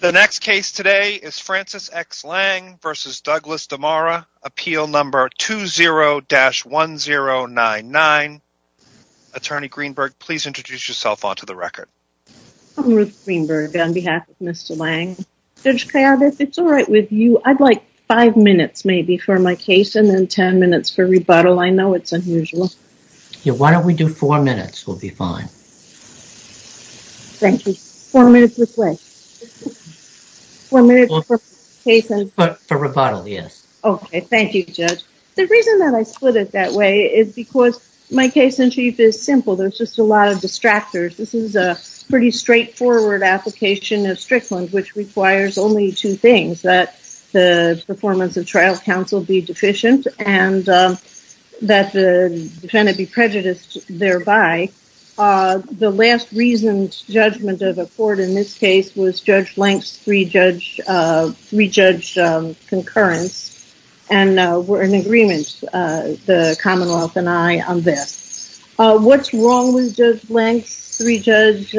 The next case today is Francis X. Lange v. Douglas DeMoura, Appeal No. 20-1099. Attorney Greenberg, please introduce yourself onto the record. I'm Ruth Greenberg on behalf of Mr. Lange. Judge Kayaba, if it's all right with you, I'd like five minutes maybe for my case and then ten minutes for rebuttal. I know it's unusual. Yeah, why don't we do four minutes? We'll be fine. Thank you. Four minutes this way. Four minutes for rebuttal, yes. Okay, thank you, Judge. The reason that I split it that way is because my case in chief is simple. There's just a lot of distractors. This is a pretty straightforward application of Strickland, which requires only two things. One is that the performance of trial counsel be deficient and that the defendant be prejudiced thereby. The last reasoned judgment of the court in this case was Judge Lange's three-judge concurrence, and we're in agreement, the Commonwealth and I, on this. What's wrong with Judge Lange's three-judge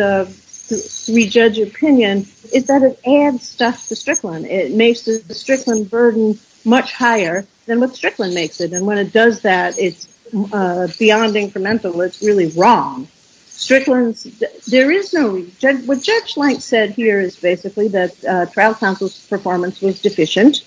opinion is that it adds stuff to Strickland. It makes the Strickland burden much higher than what Strickland makes it, and when it does that, it's beyond incremental. It's really wrong. What Judge Lange said here is basically that trial counsel's performance was deficient.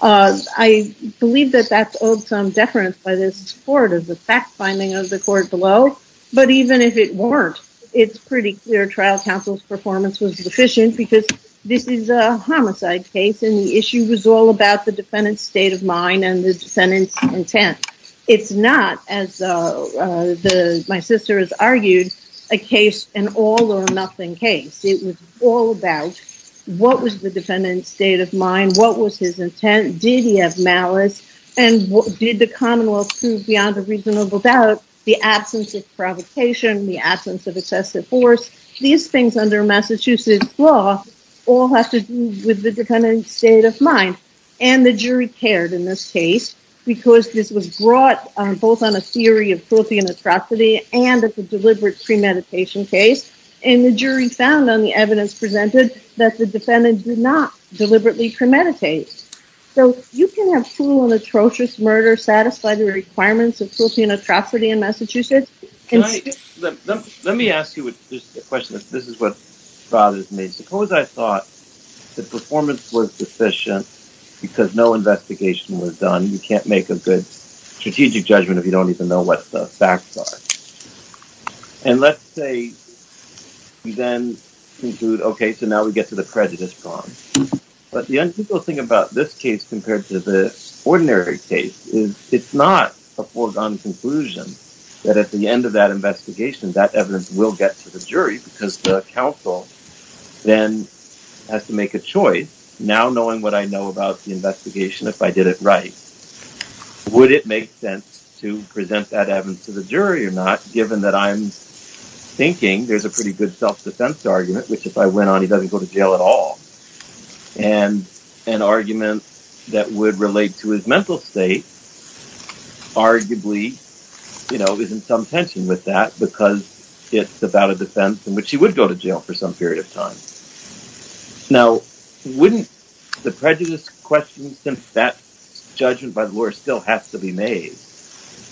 I believe that that's owed some deference by this court of the fact-finding of the court below, but even if it weren't, it's pretty clear trial counsel's performance was deficient because this is a homicide case, and the issue was all about the defendant's state of mind and the defendant's intent. It's not, as my sister has argued, a case, an all-or-nothing case. It was all about what was the defendant's state of mind, what was his intent, did he have malice, and did the Commonwealth prove beyond a reasonable doubt the absence of provocation, the absence of excessive force. These things under Massachusetts law all have to do with the defendant's state of mind, and the jury cared in this case because this was brought both on a theory of filthy and atrocity and as a deliberate premeditation case, and the jury found on the evidence presented that the defendant did not deliberately premeditate. So you can have cruel and atrocious murder satisfy the requirements of filthy and atrocity in Massachusetts. Now, this case compared to the ordinary case, it's not a foregone conclusion that at the end of that investigation, that evidence will get to the jury because the counsel then has to make a choice, now knowing what I know about the investigation, if I did it right, would it make sense to present that evidence to the jury or not, given that I'm thinking there's a pretty good self-defense argument, which if I went on, he doesn't go to jail at all. And an argument that would relate to his mental state, arguably, you know, is in some tension with that because it's about a defense in which he would go to jail for some period of time. Now, wouldn't the prejudice question, since that judgment by the lawyer still has to be made,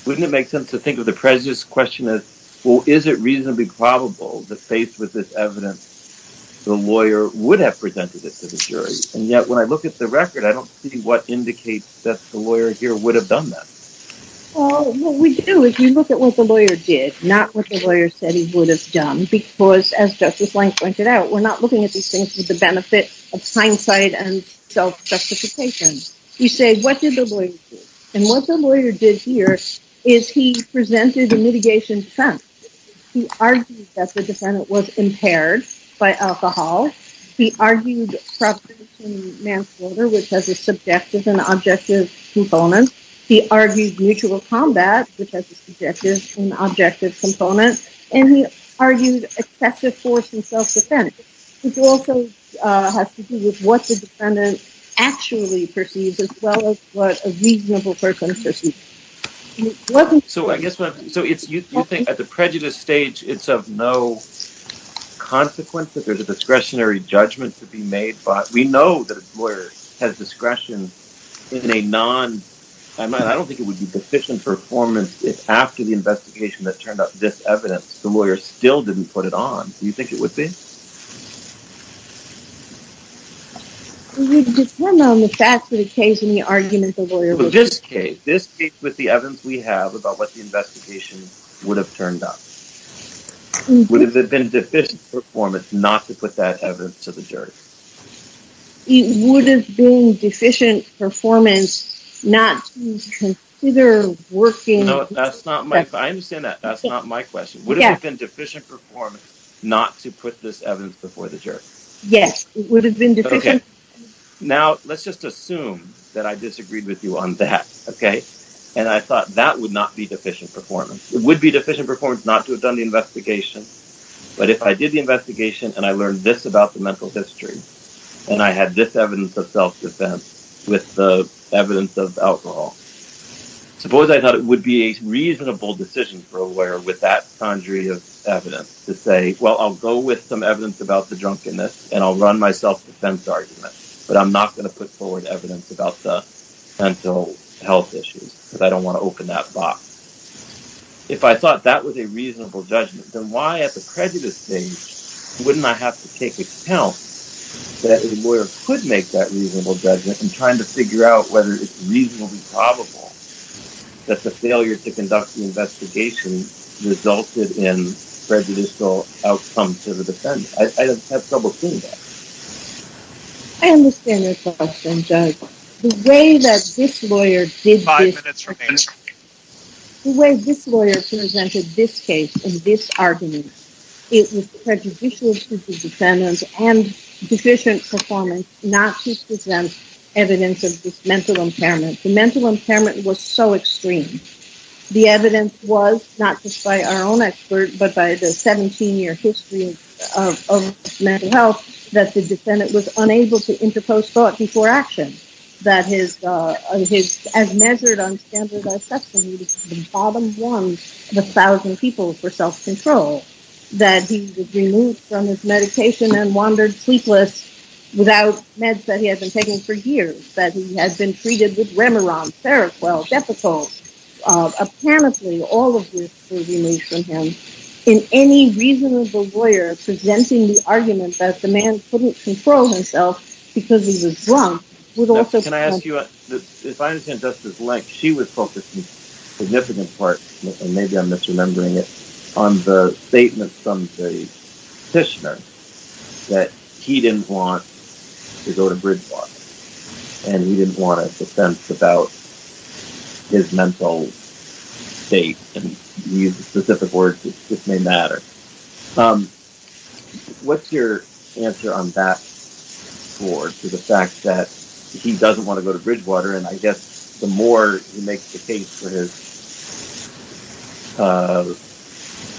wouldn't it make sense to think of the prejudice question as, well, is it reasonably probable that faced with this evidence, the lawyer would have presented it to the jury, and yet when I look at the record, I don't see what indicates that the lawyer here would have done that. Well, what we do is we look at what the lawyer did, not what the lawyer said he would have done, because as Justice Lange pointed out, we're not looking at these things for the benefit of hindsight and self-justification. We say, what did the lawyer do? And what the lawyer did here is he presented a mitigation defense. He argued that the defendant was impaired by alcohol. He argued progress in manslaughter, which has a subjective and objective component. He argued mutual combat, which has a subjective and objective component. And he argued excessive force and self-defense, which also has to do with what the defendant actually perceives as well as what a reasonable person perceives. So you think at the prejudice stage, it's of no consequence that there's a discretionary judgment to be made, but we know that a lawyer has discretion in a non... I don't think it would be deficient performance if after the investigation that turned up this evidence, the lawyer still didn't put it on. Do you think it would be? It would depend on if that's the case and the argument the lawyer was making. Well, this case. This case with the evidence we have about what the investigation would have turned up. Would it have been deficient performance not to put that evidence to the jury? It would have been deficient performance not to consider working... I understand that. That's not my question. Would it have been deficient performance not to put this evidence before the jury? Yes, it would have been deficient. Now, let's just assume that I disagreed with you on that, okay? And I thought that would not be deficient performance. It would be deficient performance not to have done the investigation, but if I did the investigation and I learned this about the mental history and I had this evidence of self-defense with the evidence of alcohol, suppose I thought it would be a reasonable decision for a lawyer with that conjury of evidence to say, well, I'll go with some evidence about the drunkenness and I'll run my self-defense argument, but I'm not going to put forward evidence about the mental health issues because I don't want to open that box. If I thought that was a reasonable judgment, then why at the prejudice stage wouldn't I have to take account that a lawyer could make that reasonable judgment in trying to figure out whether it's reasonably probable that the failure to conduct the investigation resulted in prejudicial outcomes to the defendant? I have trouble seeing that. I understand your question, Judge. The way that this lawyer did this... Five minutes remaining. The way this lawyer presented this case and this argument, it was prejudicial to the defendant and deficient performance not to present evidence of this mental impairment. The mental impairment was so extreme. The evidence was, not just by our own expert, but by the 17-year history of mental health, that the defendant was unable to interpose thought before action. That his, as measured on standardized testing, he was the bottom one of a thousand people for self-control. That he was removed from his medication and wandered sleepless without meds that he had been taking for years. That he had been treated with Remeron, Seroquel, Depakol. Apparently, all of this was removed from him. And any reasonable lawyer presenting the argument that the man couldn't control himself because he was drunk would also... Can I ask you, if I understand Justice Lech, she was focused in significant parts, and maybe I'm misremembering it, on the statement from the petitioner that he didn't want to go to Bridgewater. And he didn't want a defense about his mental state. And he used specific words, which may matter. What's your answer on that towards the fact that he doesn't want to go to Bridgewater? And I guess the more he makes the case for his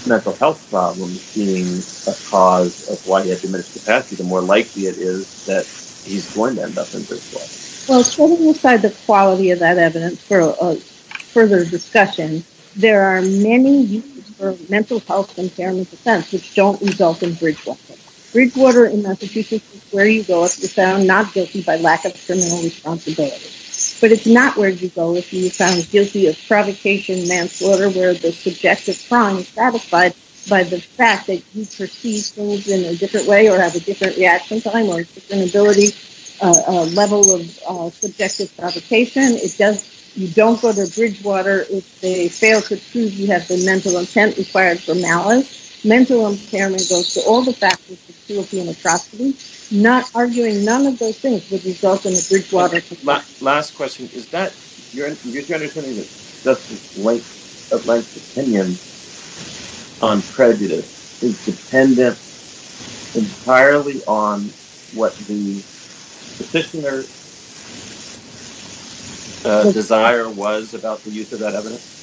mental health problems being a cause of why he had diminished capacity, the more likely it is that he's going to end up in Bridgewater. Well, sort of beside the quality of that evidence for further discussion, there are many uses for mental health impairment defense which don't result in Bridgewater. Bridgewater in Massachusetts is where you go if you're found not guilty by lack of criminal responsibility. But it's not where you go if you're found guilty of provocation manslaughter where the subjective crime is satisfied by the fact that you perceive things in a different way or have a different reaction time or disability level of subjective provocation. You don't go to Bridgewater if they fail to prove you have the mental intent required for malice. Mental impairment goes to all the factors of cruelty and atrocity. Not arguing none of those things would result in a Bridgewater case. Last question. Is that your understanding that Justice Lank's opinion on prejudice is dependent entirely on what the petitioner's desire was about the use of that evidence?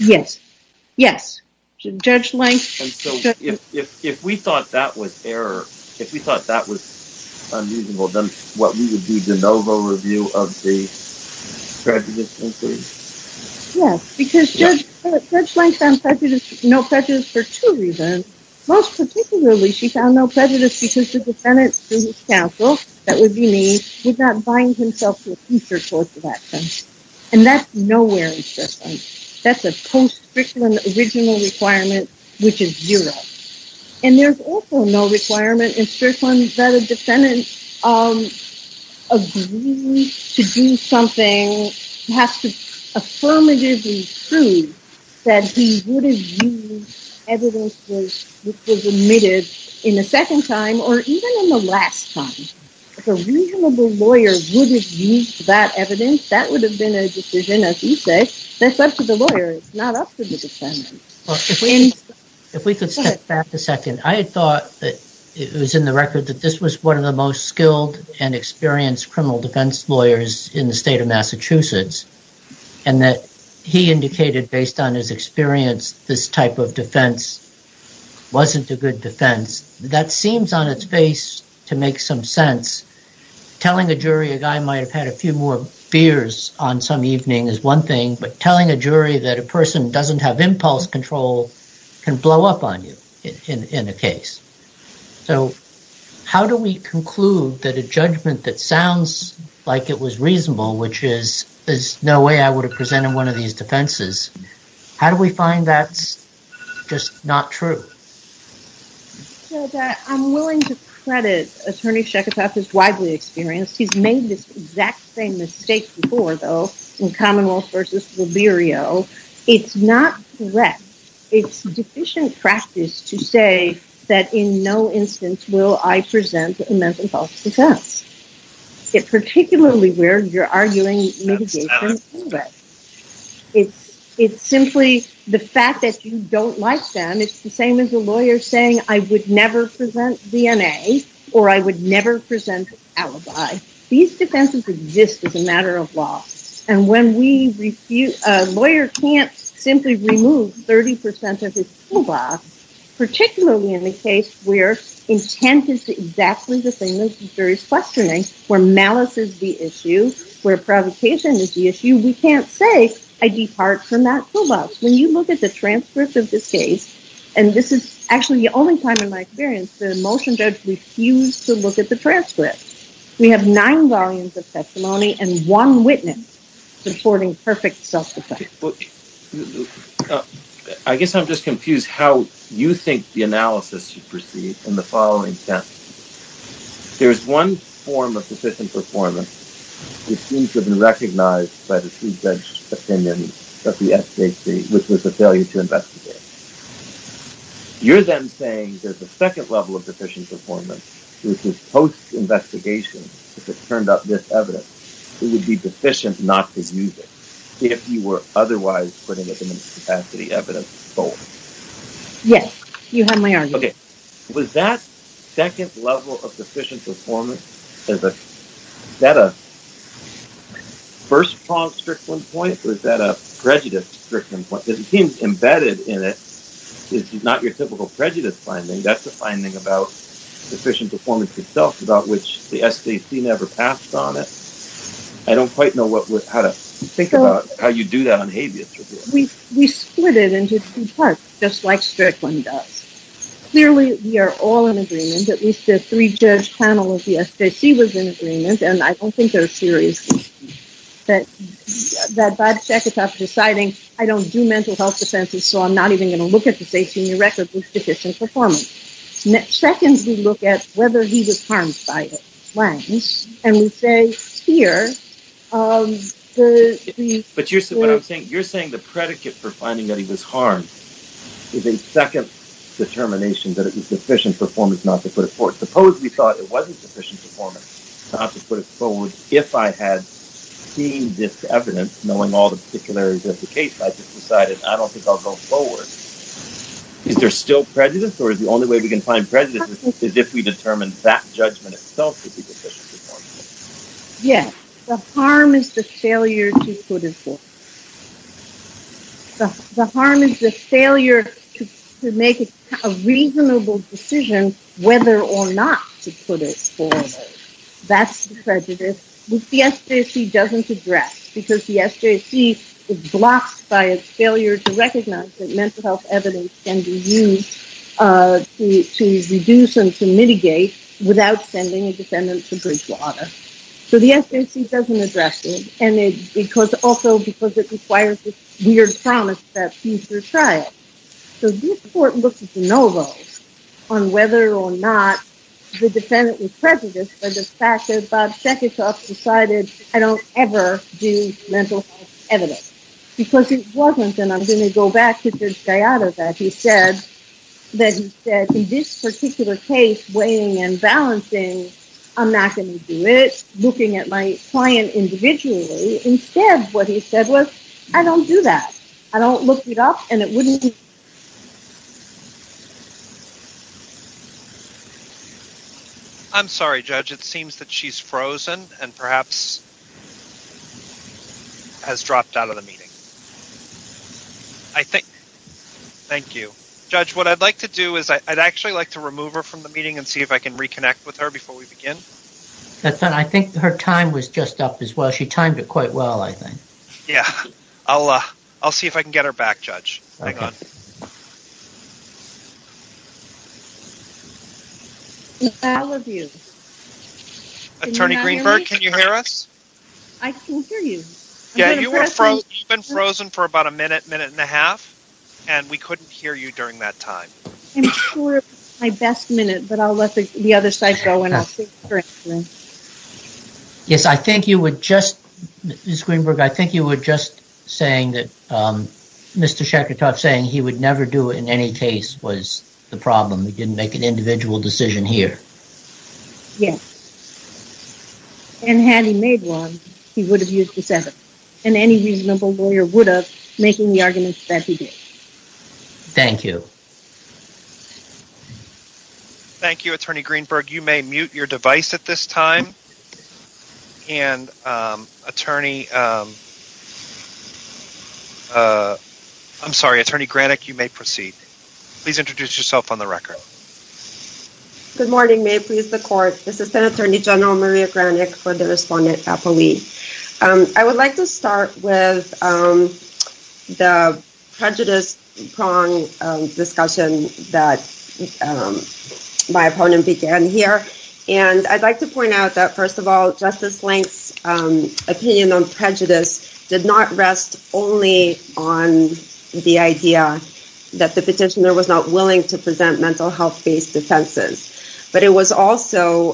Yes. Yes. And so if we thought that was error, if we thought that was unusual, then what we would do, de novo review of the prejudice inquiry? Yes, because Judge Lank found no prejudice for two reasons. Most particularly, she found no prejudice because the defendant, through his counsel, that would be me, did not bind himself to a future course of action. And that's nowhere in Strickland. That's a post-Strickland original requirement, which is zero. And there's also no requirement in Strickland that a defendant agrees to do something that has to affirmatively prove that he would have used evidence which was omitted in the second time or even in the last time. If a reasonable lawyer would have used that evidence, that would have been a decision, as you say, that's up to the lawyer. It's not up to the defendant. If we could step back a second, I had thought that it was in the record that this was one of the most skilled and experienced criminal defense lawyers in the state of Massachusetts. And that he indicated based on his experience, this type of defense wasn't a good defense. That seems on its face to make some sense. Telling a jury a guy might have had a few more beers on some evening is one thing, but telling a jury that a person doesn't have impulse control can blow up on you in a case. So how do we conclude that a judgment that sounds like it was reasonable, which is there's no way I would have presented one of these defenses, how do we find that's just not true? I'm willing to credit Attorney Sheketoff, he's widely experienced, he's made this exact same mistake before, though, in Commonwealth v. Rubirio. It's not correct. It's deficient practice to say that in no instance will I present a mental health defense. Particularly where you're arguing mitigation. It's simply the fact that you don't like them. It's the same as a lawyer saying, I would never present DNA or I would never present alibi. These defenses exist as a matter of law. A lawyer can't simply remove 30% of his toolbox, particularly in a case where intent is exactly the same as the jury's questioning, where malice is the issue, where provocation is the issue. We can't say, I depart from that toolbox. When you look at the transcript of this case, and this is actually the only time in my experience the motion judge refused to look at the transcript. We have nine volumes of testimony and one witness supporting perfect self-defense. I guess I'm just confused how you think the analysis should proceed in the following sense. There's one form of deficient performance. It seems to have been recognized by the pre-judge opinion that the FJC, which was a failure to investigate. You're then saying there's a second level of deficient performance, which is post-investigation. If it turned up this evidence, it would be deficient not to use it. If you were otherwise putting it in its capacity evidence. Yes, you had my argument. Was that second level of deficient performance, was that a first-pronged Strickland point, or was that a prejudice Strickland point? It seems embedded in it is not your typical prejudice finding. That's a finding about deficient performance itself, about which the FJC never passed on it. I don't quite know how to think about how you do that on habeas. We split it into two parts, just like Strickland does. Clearly, we are all in agreement. At least the three-judge panel of the FJC was in agreement, and I don't think they're serious. That Bob Seketoff deciding, I don't do mental health defenses, so I'm not even going to look at this 18-year record with deficient performance. Second, we look at whether he was harmed by it. You're saying the predicate for finding that he was harmed is a second determination that it was deficient performance not to put it forward. Suppose we thought it wasn't deficient performance not to put it forward. If I had seen this evidence, knowing all the particularities of the case, I just decided I don't think I'll go forward. Is there still prejudice, or is the only way we can find prejudice is if we determine that judgment itself to be deficient performance? Yes. The harm is the failure to put it forward. The harm is the failure to make a reasonable decision whether or not to put it forward. That's the prejudice, which the SJC doesn't address, because the SJC is blocked by its failure to recognize that mental health evidence can be used to reduce and to mitigate without sending a defendant to bridge water. So the SJC doesn't address it, and also because it requires this weird promise that he's retried. So this court looks at the no vote on whether or not the defendant was prejudiced by the fact that Bob Shekishoff decided I don't ever do mental health evidence. Because it wasn't, and I'm going to go back to Judge Gallardo, that he said in this particular case, weighing and balancing, I'm not going to do it, looking at my client individually. Instead, what he said was, I don't do that. I don't look it up, and it wouldn't be. I'm sorry, Judge. It seems that she's frozen and perhaps has dropped out of the meeting. Thank you. Judge, what I'd like to do is I'd actually like to remove her from the meeting and see if I can reconnect with her before we begin. I think her time was just up as well. She timed it quite well, I think. Yeah. I'll see if I can get her back, Judge. Hang on. Attorney Greenberg, can you hear us? I can hear you. Yeah, you've been frozen for about a minute, minute and a half, and we couldn't hear you during that time. I'm sure it was my best minute, but I'll let the other side go, and I'll see if you're answering. Yes, I think you were just, Ms. Greenberg, I think you were just saying that Mr. Shekhartov saying he would never do it in any case was the problem. He didn't make an individual decision here. Yes. And had he made one, he would have used the seven. And any reasonable lawyer would have, making the argument that he did. Thank you. Thank you, Attorney Greenberg. You may mute your device at this time. And Attorney, I'm sorry, Attorney Granik, you may proceed. Please introduce yourself on the record. Good morning. May it please the court. This is then Attorney General Maria Granik for the respondent appellee. I would like to start with the prejudice prong discussion that my opponent began here. And I'd like to point out that, first of all, Justice Lenk's opinion on prejudice did not rest only on the idea that the petitioner was not willing to present mental health-based defenses. But it was also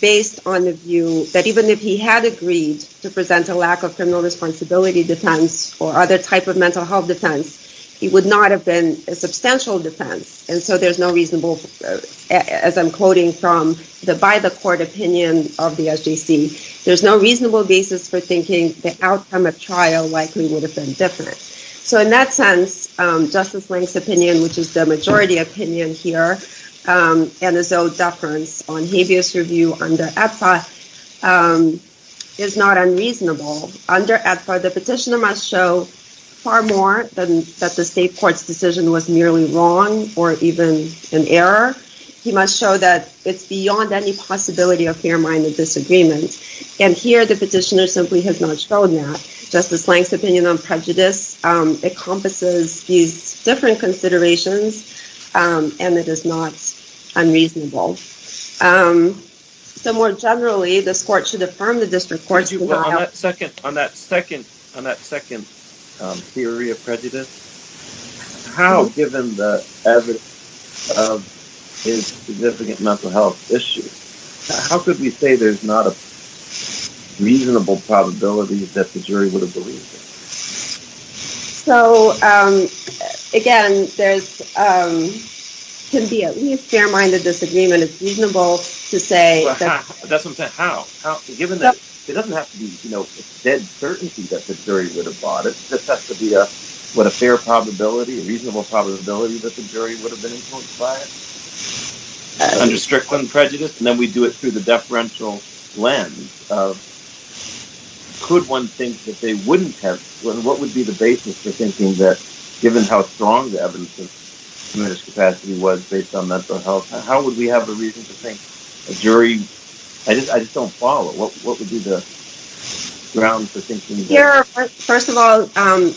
based on the view that even if he had agreed to present a lack of criminal responsibility defense or other type of mental health defense, it would not have been a substantial defense. And so there's no reasonable, as I'm quoting from the by-the-court opinion of the SJC, there's no reasonable basis for thinking the outcome of trial likely would have been different. So in that sense, Justice Lenk's opinion, which is the majority opinion here, and his own deference on habeas review under EPFA, is not unreasonable. Under EPFA, the petitioner must show far more than that the state court's decision was merely wrong or even an error. He must show that it's beyond any possibility of fair-minded disagreement. And here, the petitioner simply has not shown that. Justice Lenk's opinion on prejudice encompasses these different considerations, and it is not unreasonable. So more generally, this court should affirm the district court's denial. On that second theory of prejudice, how, given the evidence of his significant mental health issues, how could we say there's not a reasonable probability that the jury would have believed him? So, again, there can be at least fair-minded disagreement. It's reasonable to say… That's what I'm saying. How? Given that it doesn't have to be a dead certainty that the jury would have bought it. It just has to be a fair probability, a reasonable probability, that the jury would have been influenced by it. Under Strickland prejudice, and then we do it through the deferential lens, could one think that they wouldn't have… What would be the basis for thinking that, given how strong the evidence of his capacity was based on mental health, how would we have a reason to think a jury… I just don't follow. What would be the grounds for thinking… First of all,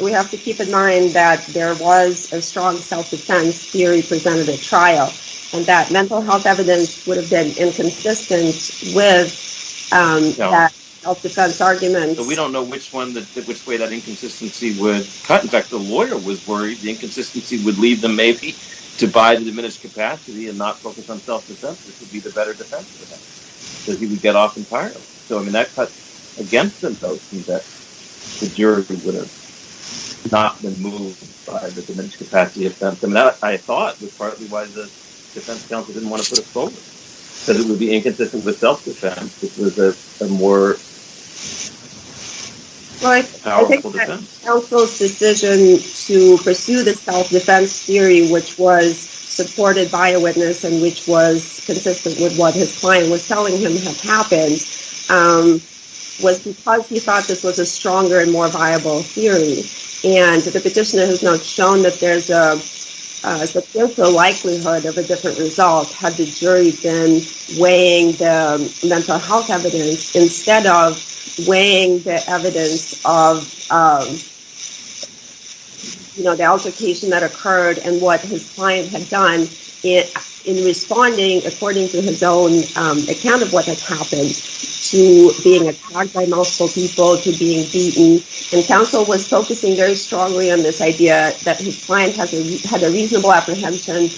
we have to keep in mind that there was a strong self-defense theory presented at trial, and that mental health evidence would have been inconsistent with that self-defense argument. We don't know which way that inconsistency would cut. In fact, the lawyer was worried the inconsistency would lead them, maybe, to buy the diminished capacity and not focus on self-defense. This would be the better defense for them, because he would get off entirely. So, I mean, that cut against themselves means that the jury would have not been moved by the diminished capacity. And that, I thought, was partly why the defense counsel didn't want to put it forward, because it would be inconsistent with self-defense, which was a more powerful defense. Counsel's decision to pursue the self-defense theory, which was supported by a witness and which was consistent with what his client was telling him had happened, was because he thought this was a stronger and more viable theory. And the petitioner has now shown that there's a substantial likelihood of a different result had the jury been weighing the mental health evidence instead of weighing the evidence of the altercation that occurred and what his client had done in responding, according to his own account of what had happened, to being attacked by multiple people, to being beaten. And counsel was focusing very strongly on this idea that his client had a reasonable apprehension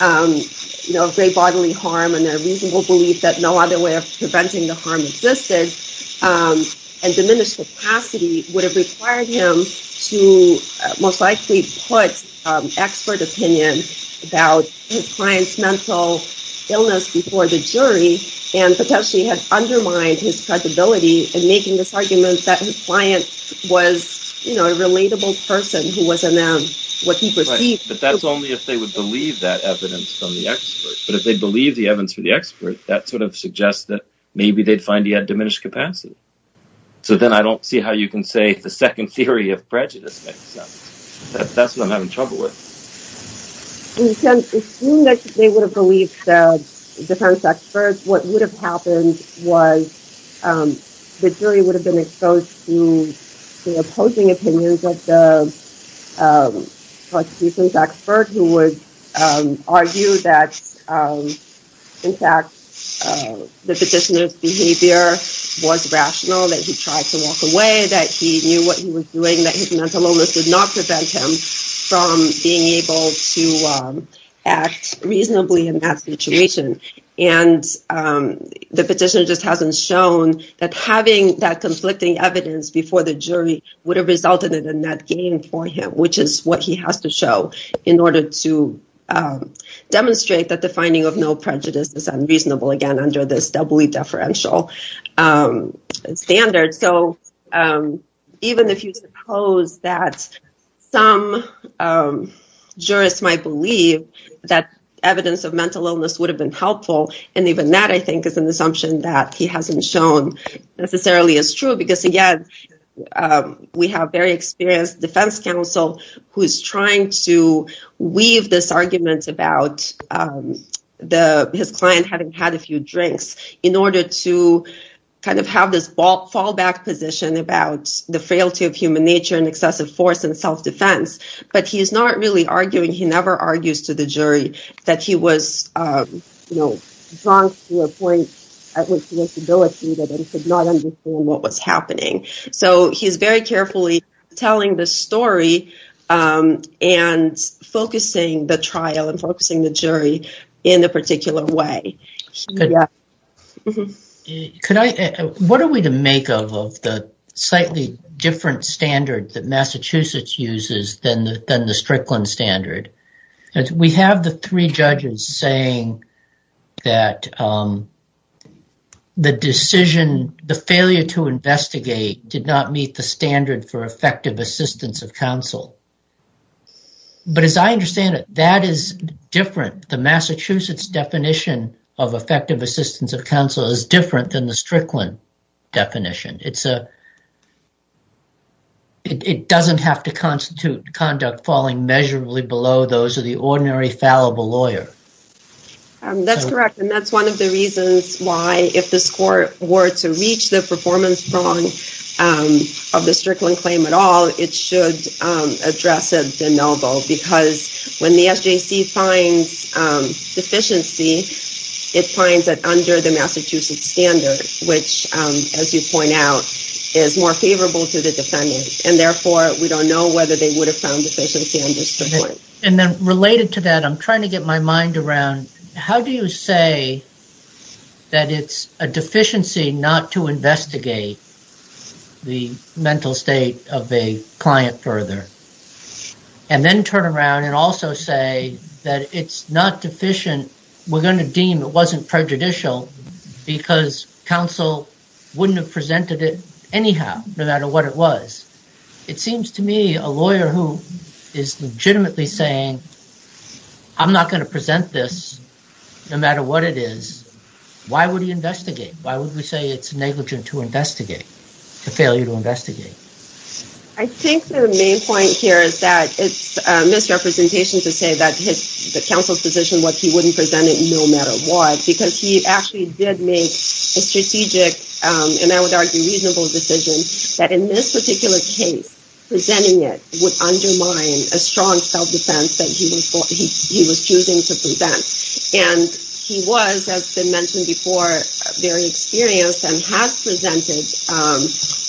of grave bodily harm and a reasonable belief that no other way of preventing the harm existed. And diminished capacity would have required him to most likely put expert opinion about his client's mental illness before the jury and potentially had undermined his credibility in making this argument that his client was, you know, a relatable person who wasn't what he perceived. But that's only if they would believe that evidence from the expert. But if they believe the evidence from the expert, that sort of suggests that maybe they'd find he had diminished capacity. So then I don't see how you can say the second theory of prejudice makes sense. That's what I'm having trouble with. As soon as they would have believed the defense experts, what would have happened was the jury would have been exposed to the opposing opinions of the prosecution's expert, who would argue that, in fact, the petitioner's behavior was rational, that he tried to walk away, that he knew what he was doing, that his mental illness did not prevent him from being able to walk away. He was able to act reasonably in that situation. And the petitioner just hasn't shown that having that conflicting evidence before the jury would have resulted in a net gain for him, which is what he has to show in order to demonstrate that the finding of no prejudice is unreasonable, again, under this doubly deferential standard. So even if you suppose that some jurists might believe that evidence of mental illness would have been helpful, and even that, I think, is an assumption that he hasn't shown necessarily is true. Because, again, we have very experienced defense counsel who is trying to weave this argument about his client having had a few drinks in order to kind of have this fallback position about the frailty of human nature and excessive force and self-defense. But he's not really arguing. He never argues to the jury that he was drunk to a point at which he was debilitated and could not understand what was happening. So he's very carefully telling the story and focusing the trial and focusing the jury in a particular way. What are we to make of the slightly different standard that Massachusetts uses than the Strickland standard? We have the three judges saying that the decision, the failure to investigate did not meet the standard for effective assistance of counsel. But as I understand it, that is different. The Massachusetts definition of effective assistance of counsel is different than the Strickland definition. It doesn't have to constitute conduct falling measurably below those of the ordinary fallible lawyer. That's correct. And that's one of the reasons why, if the score were to reach the performance strong of the Strickland claim at all, it should address it de novo. Because when the SJC finds deficiency, it finds it under the Massachusetts standard, which, as you point out, is more favorable to the defendant. And, therefore, we don't know whether they would have found deficiency under Strickland. And then related to that, I'm trying to get my mind around, how do you say that it's a deficiency not to investigate the mental state of a client further? And then turn around and also say that it's not deficient. We're going to deem it wasn't prejudicial because counsel wouldn't have presented it anyhow, no matter what it was. It seems to me, a lawyer who is legitimately saying, I'm not going to present this, no matter what it is, why would he investigate? Why would we say it's negligent to investigate, to fail you to investigate? I think the main point here is that it's a misrepresentation to say that the counsel's position was he wouldn't present it, no matter what, because he actually did make a strategic, and I would argue reasonable decision, that in this particular case, presenting it would undermine a strong self-defense that he was choosing to present. And he was, as has been mentioned before, very experienced and has presented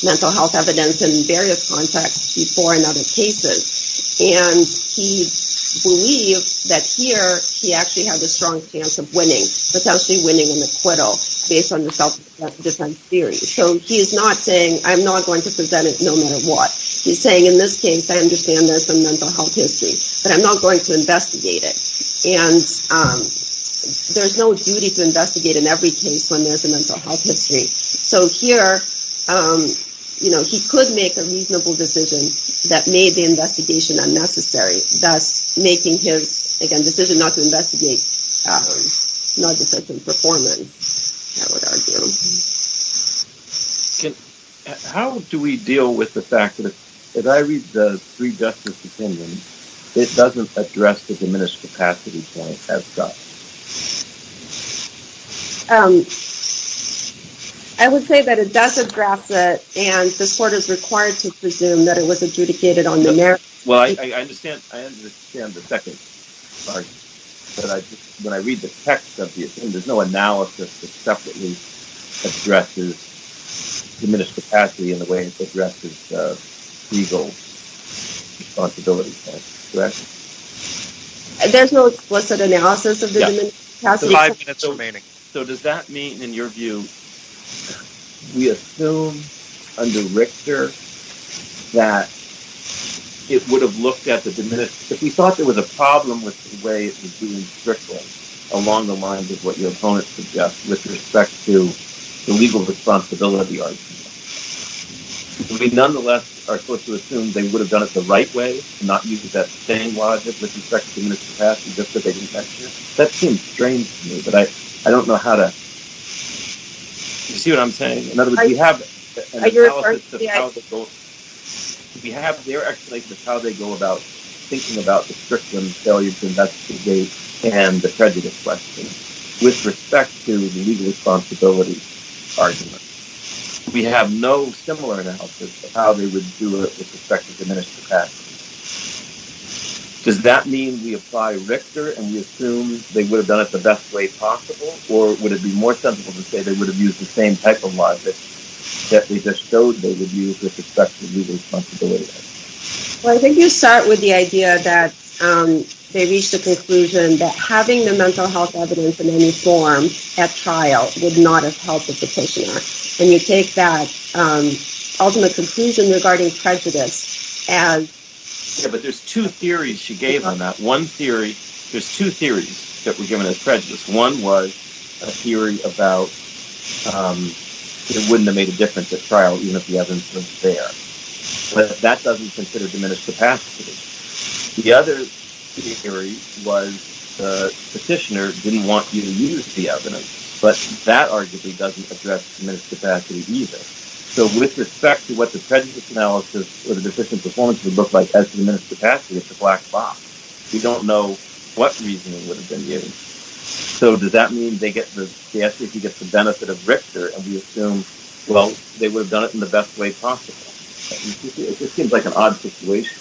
mental health evidence in various contexts before in other cases. And he believed that here, he actually had a strong chance of winning, potentially winning an acquittal based on the self-defense theory. So he is not saying, I'm not going to present it, no matter what. He's saying, in this case, I understand there's some mental health history, but I'm not going to investigate it. And there's no duty to investigate in every case when there's a mental health history. So here, he could make a reasonable decision that made the investigation unnecessary, thus making his decision not to investigate negligent in performance, I would argue. How do we deal with the fact that if I read the three justice opinions, it doesn't address the diminished capacity point as such? I would say that it does address it, and this court is required to presume that it was adjudicated on the merits. Well, I understand the second part, but when I read the text of the opinion, there's no analysis that separately addresses diminished capacity in the way it addresses legal responsibility. There's no explicit analysis of the diminished capacity? Yes, there's five minutes remaining. So does that mean, in your view, we assume under Richter that it would have looked at the diminished... That seems strange to me, but I don't know how to... Do you see what I'm saying? In other words, we have an analysis of how they go about thinking about the Strickland failure to investigate and the prejudice question with respect to the legal responsibility argument. We have no similar analysis of how they would do it with respect to diminished capacity. Does that mean we apply Richter and we assume they would have done it the best way possible, or would it be more sensible to say they would have used the same type of logic that they just showed they would use with respect to legal responsibility? Well, I think you start with the idea that they reached the conclusion that having the mental health evidence in any form at trial would not have helped the petitioner, and you take that ultimate conclusion regarding prejudice as... But that doesn't consider diminished capacity. The other theory was the petitioner didn't want you to use the evidence, but that arguably doesn't address diminished capacity either. So with respect to what the prejudice analysis or the decision performance would look like as diminished capacity, it's a black box. We don't know what reasoning would have been used. So does that mean the SJC gets the benefit of Richter and we assume, well, they would have done it in the best way possible? It seems like an odd situation.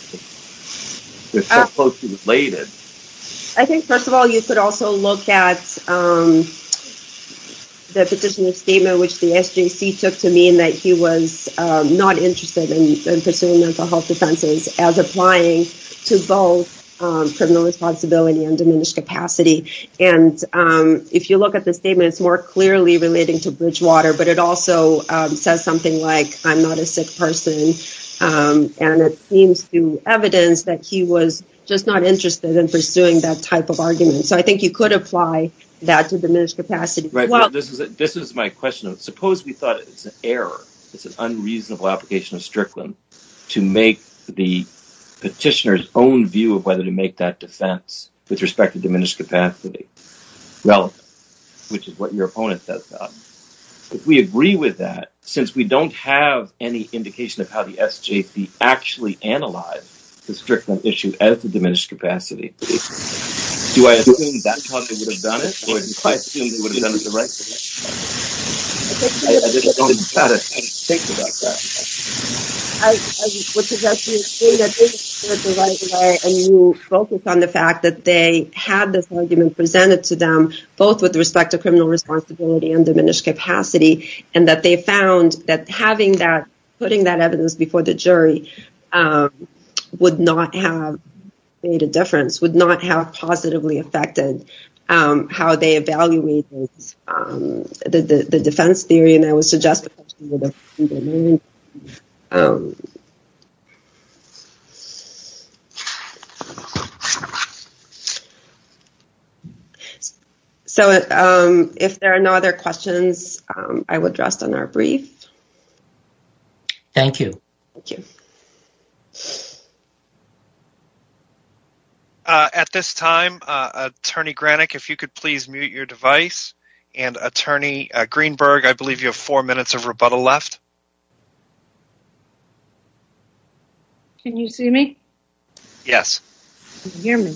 They're so closely related. I think, first of all, you could also look at the petitioner's statement, which the SJC took to mean that he was not interested in pursuing mental health defenses as applying to both criminal responsibility and diminished capacity. And if you look at the statement, it's more clearly relating to Bridgewater, but it also says something like, I'm not a sick person. And it seems to evidence that he was just not interested in pursuing that type of argument. So I think you could apply that to diminished capacity. This is my question. Suppose we thought it's an error. It's an unreasonable application of Strickland to make the petitioner's own view of whether to make that defense with respect to diminished capacity relevant, which is what your opponent does. If we agree with that, since we don't have any indication of how the SJC actually analyzed the Strickland issue as the diminished capacity, do I assume that's how they would have done it? Or do I assume they would have done it the right way? I just don't know how to think about that. I would suggest you assume that they would have done it the right way, and you focus on the fact that they had this argument presented to them, both with respect to criminal responsibility and diminished capacity, and that they found that putting that evidence before the jury would not have made a difference, would not have positively affected how they evaluate the defense theory. So if there are no other questions, I will address them in our brief. Thank you. Thank you. At this time, Attorney Granik, if you could please mute your device, and Attorney Greenberg, I believe you have four minutes of rebuttal left. Can you see me? Yes. You can hear me.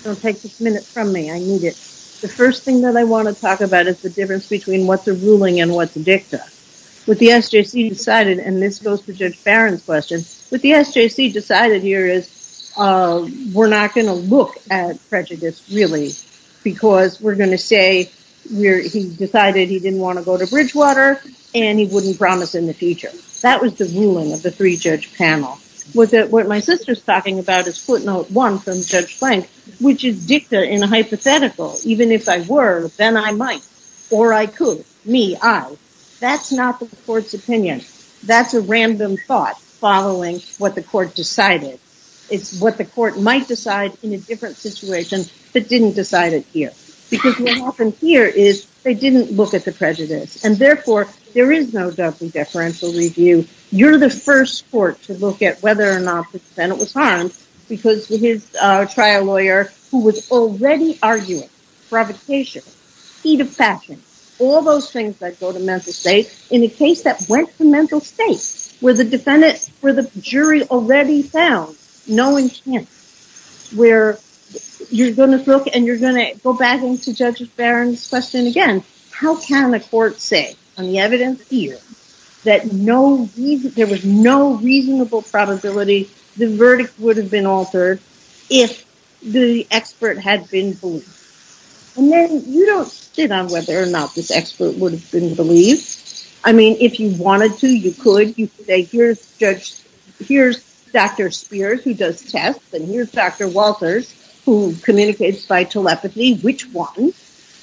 It'll take just a minute from me. I need it. The first thing that I want to talk about is the difference between what's a ruling and what's a dicta. What the SJC decided, and this goes to Judge Barron's question, what the SJC decided here is we're not going to look at prejudice, really, because we're going to say he decided he didn't want to go to Bridgewater, and he wouldn't promise in the future. That was the ruling of the three-judge panel. What my sister's talking about is footnote one from Judge Blank, which is dicta in a hypothetical, even if I were, then I might, or I could, me, I. That's not the court's opinion. That's a random thought following what the court decided. It's what the court might decide in a different situation, but didn't decide it here. Because what happened here is they didn't look at the prejudice, and therefore, there is no double deferential review. You're the first court to look at whether or not the defendant was harmed because his trial lawyer, who was already arguing provocation, speed of fashion, all those things that go to mental state, in a case that went to mental state, where the defendant, where the jury already found no intent, where you're going to look, and you're going to go back into Judge Barron's question again. How can a court say, on the evidence here, that there was no reasonable probability the verdict would have been altered if the expert had been believed? And then, you don't sit on whether or not this expert would have been believed. I mean, if you wanted to, you could. You could say, here's Judge, here's Dr. Spears, who does tests, and here's Dr. Walters, who communicates by telepathy. Which one?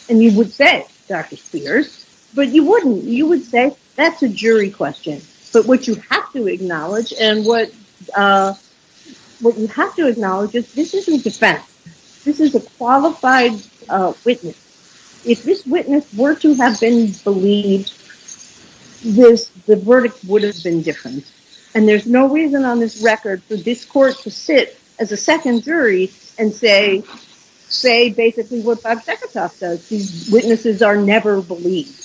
And you would say, Dr. Spears. But you wouldn't. You would say, that's a jury question. But what you have to acknowledge, and what you have to acknowledge is this isn't defense. This is a qualified witness. If this witness were to have been believed, the verdict would have been different. And there's no reason on this record for this court to sit as a second jury and say basically what Bob Seketoff does. These witnesses are never believed.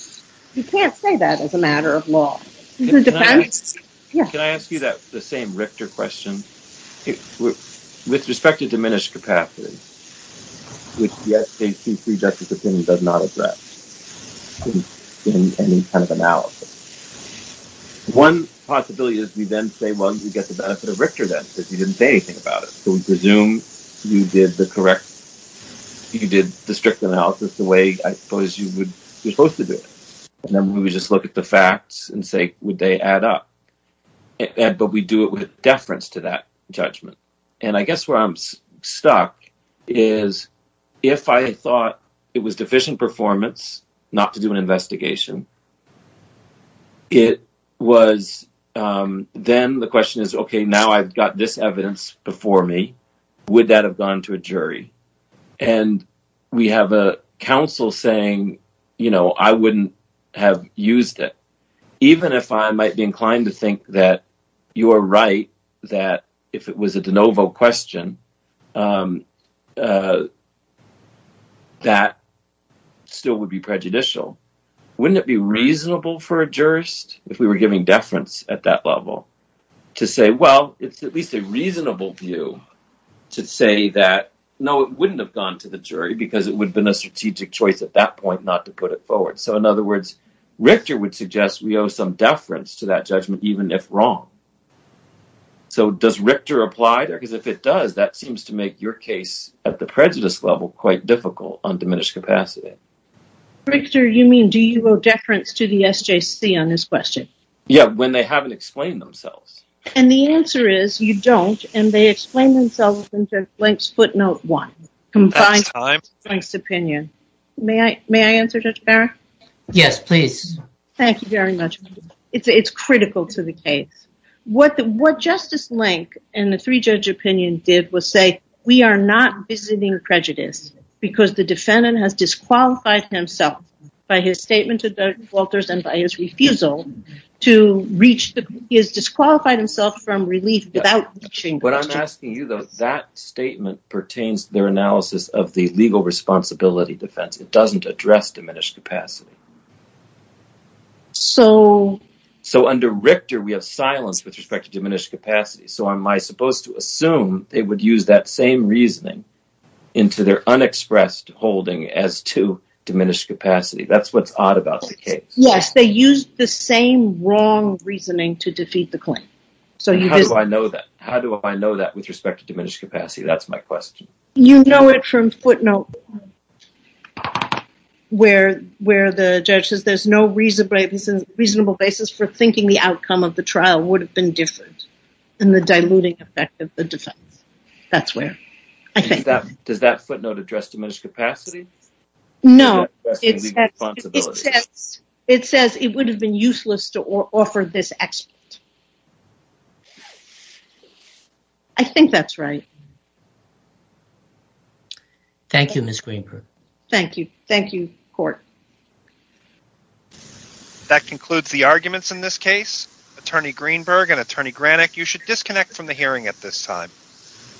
You can't say that as a matter of law. Can I ask you the same Richter question? With respect to diminished capacity, which, yes, a free, justice opinion does not address in any kind of analysis, one possibility is we then say, well, you get the benefit of Richter then, because you didn't say anything about it. So we presume you did the strict analysis the way I suppose you were supposed to do it. And then we would just look at the facts and say, would they add up? But we do it with deference to that judgment. And I guess where I'm stuck is if I thought it was deficient performance not to do an investigation, it was then the question is, okay, now I've got this evidence before me. Would that have gone to a jury? And we have a counsel saying, you know, I wouldn't have used it. Even if I might be inclined to think that you are right, that if it was a de novo question, that still would be prejudicial. Wouldn't it be reasonable for a jurist, if we were giving deference at that level, to say, well, it's at least a reasonable view to say that, no, it wouldn't have gone to the jury because it would have been a strategic choice at that point not to put it forward. So in other words, Richter would suggest we owe some deference to that judgment, even if wrong. So does Richter apply there? Because if it does, that seems to make your case at the prejudice level quite difficult on diminished capacity. Richter, you mean, do you owe deference to the SJC on this question? Yeah, when they haven't explained themselves. And the answer is you don't. And they explain themselves in Blank's footnote one. Blank's opinion. May I answer, Judge Barrett? Yes, please. Thank you very much. It's critical to the case. What Justice Blank and the three-judge opinion did was say, we are not visiting prejudice because the defendant has disqualified himself by his statement to Judge Walters and by his refusal to reach, he has disqualified himself from relief without reaching prejudice. What I'm asking you, though, that statement pertains to their analysis of the legal responsibility defense. It doesn't address diminished capacity. So? So under Richter, we have silence with respect to diminished capacity. So am I supposed to assume they would use that same reasoning into their unexpressed holding as to diminished capacity? That's what's odd about the case. Yes, they used the same wrong reasoning to defeat the claim. How do I know that? How do I know that with respect to diminished capacity? That's my question. You know it from footnote one where the judge says there's no reasonable basis for thinking the outcome of the trial would have been different and the diluting effect of the defense. That's where. Does that footnote address diminished capacity? No. It says it would have been useless to offer this expert. I think that's right. Thank you, Miss Greenberg. Thank you. Thank you, court. That concludes the arguments in this case. Attorney Greenberg and Attorney Granik, you should disconnect from the hearing at this time.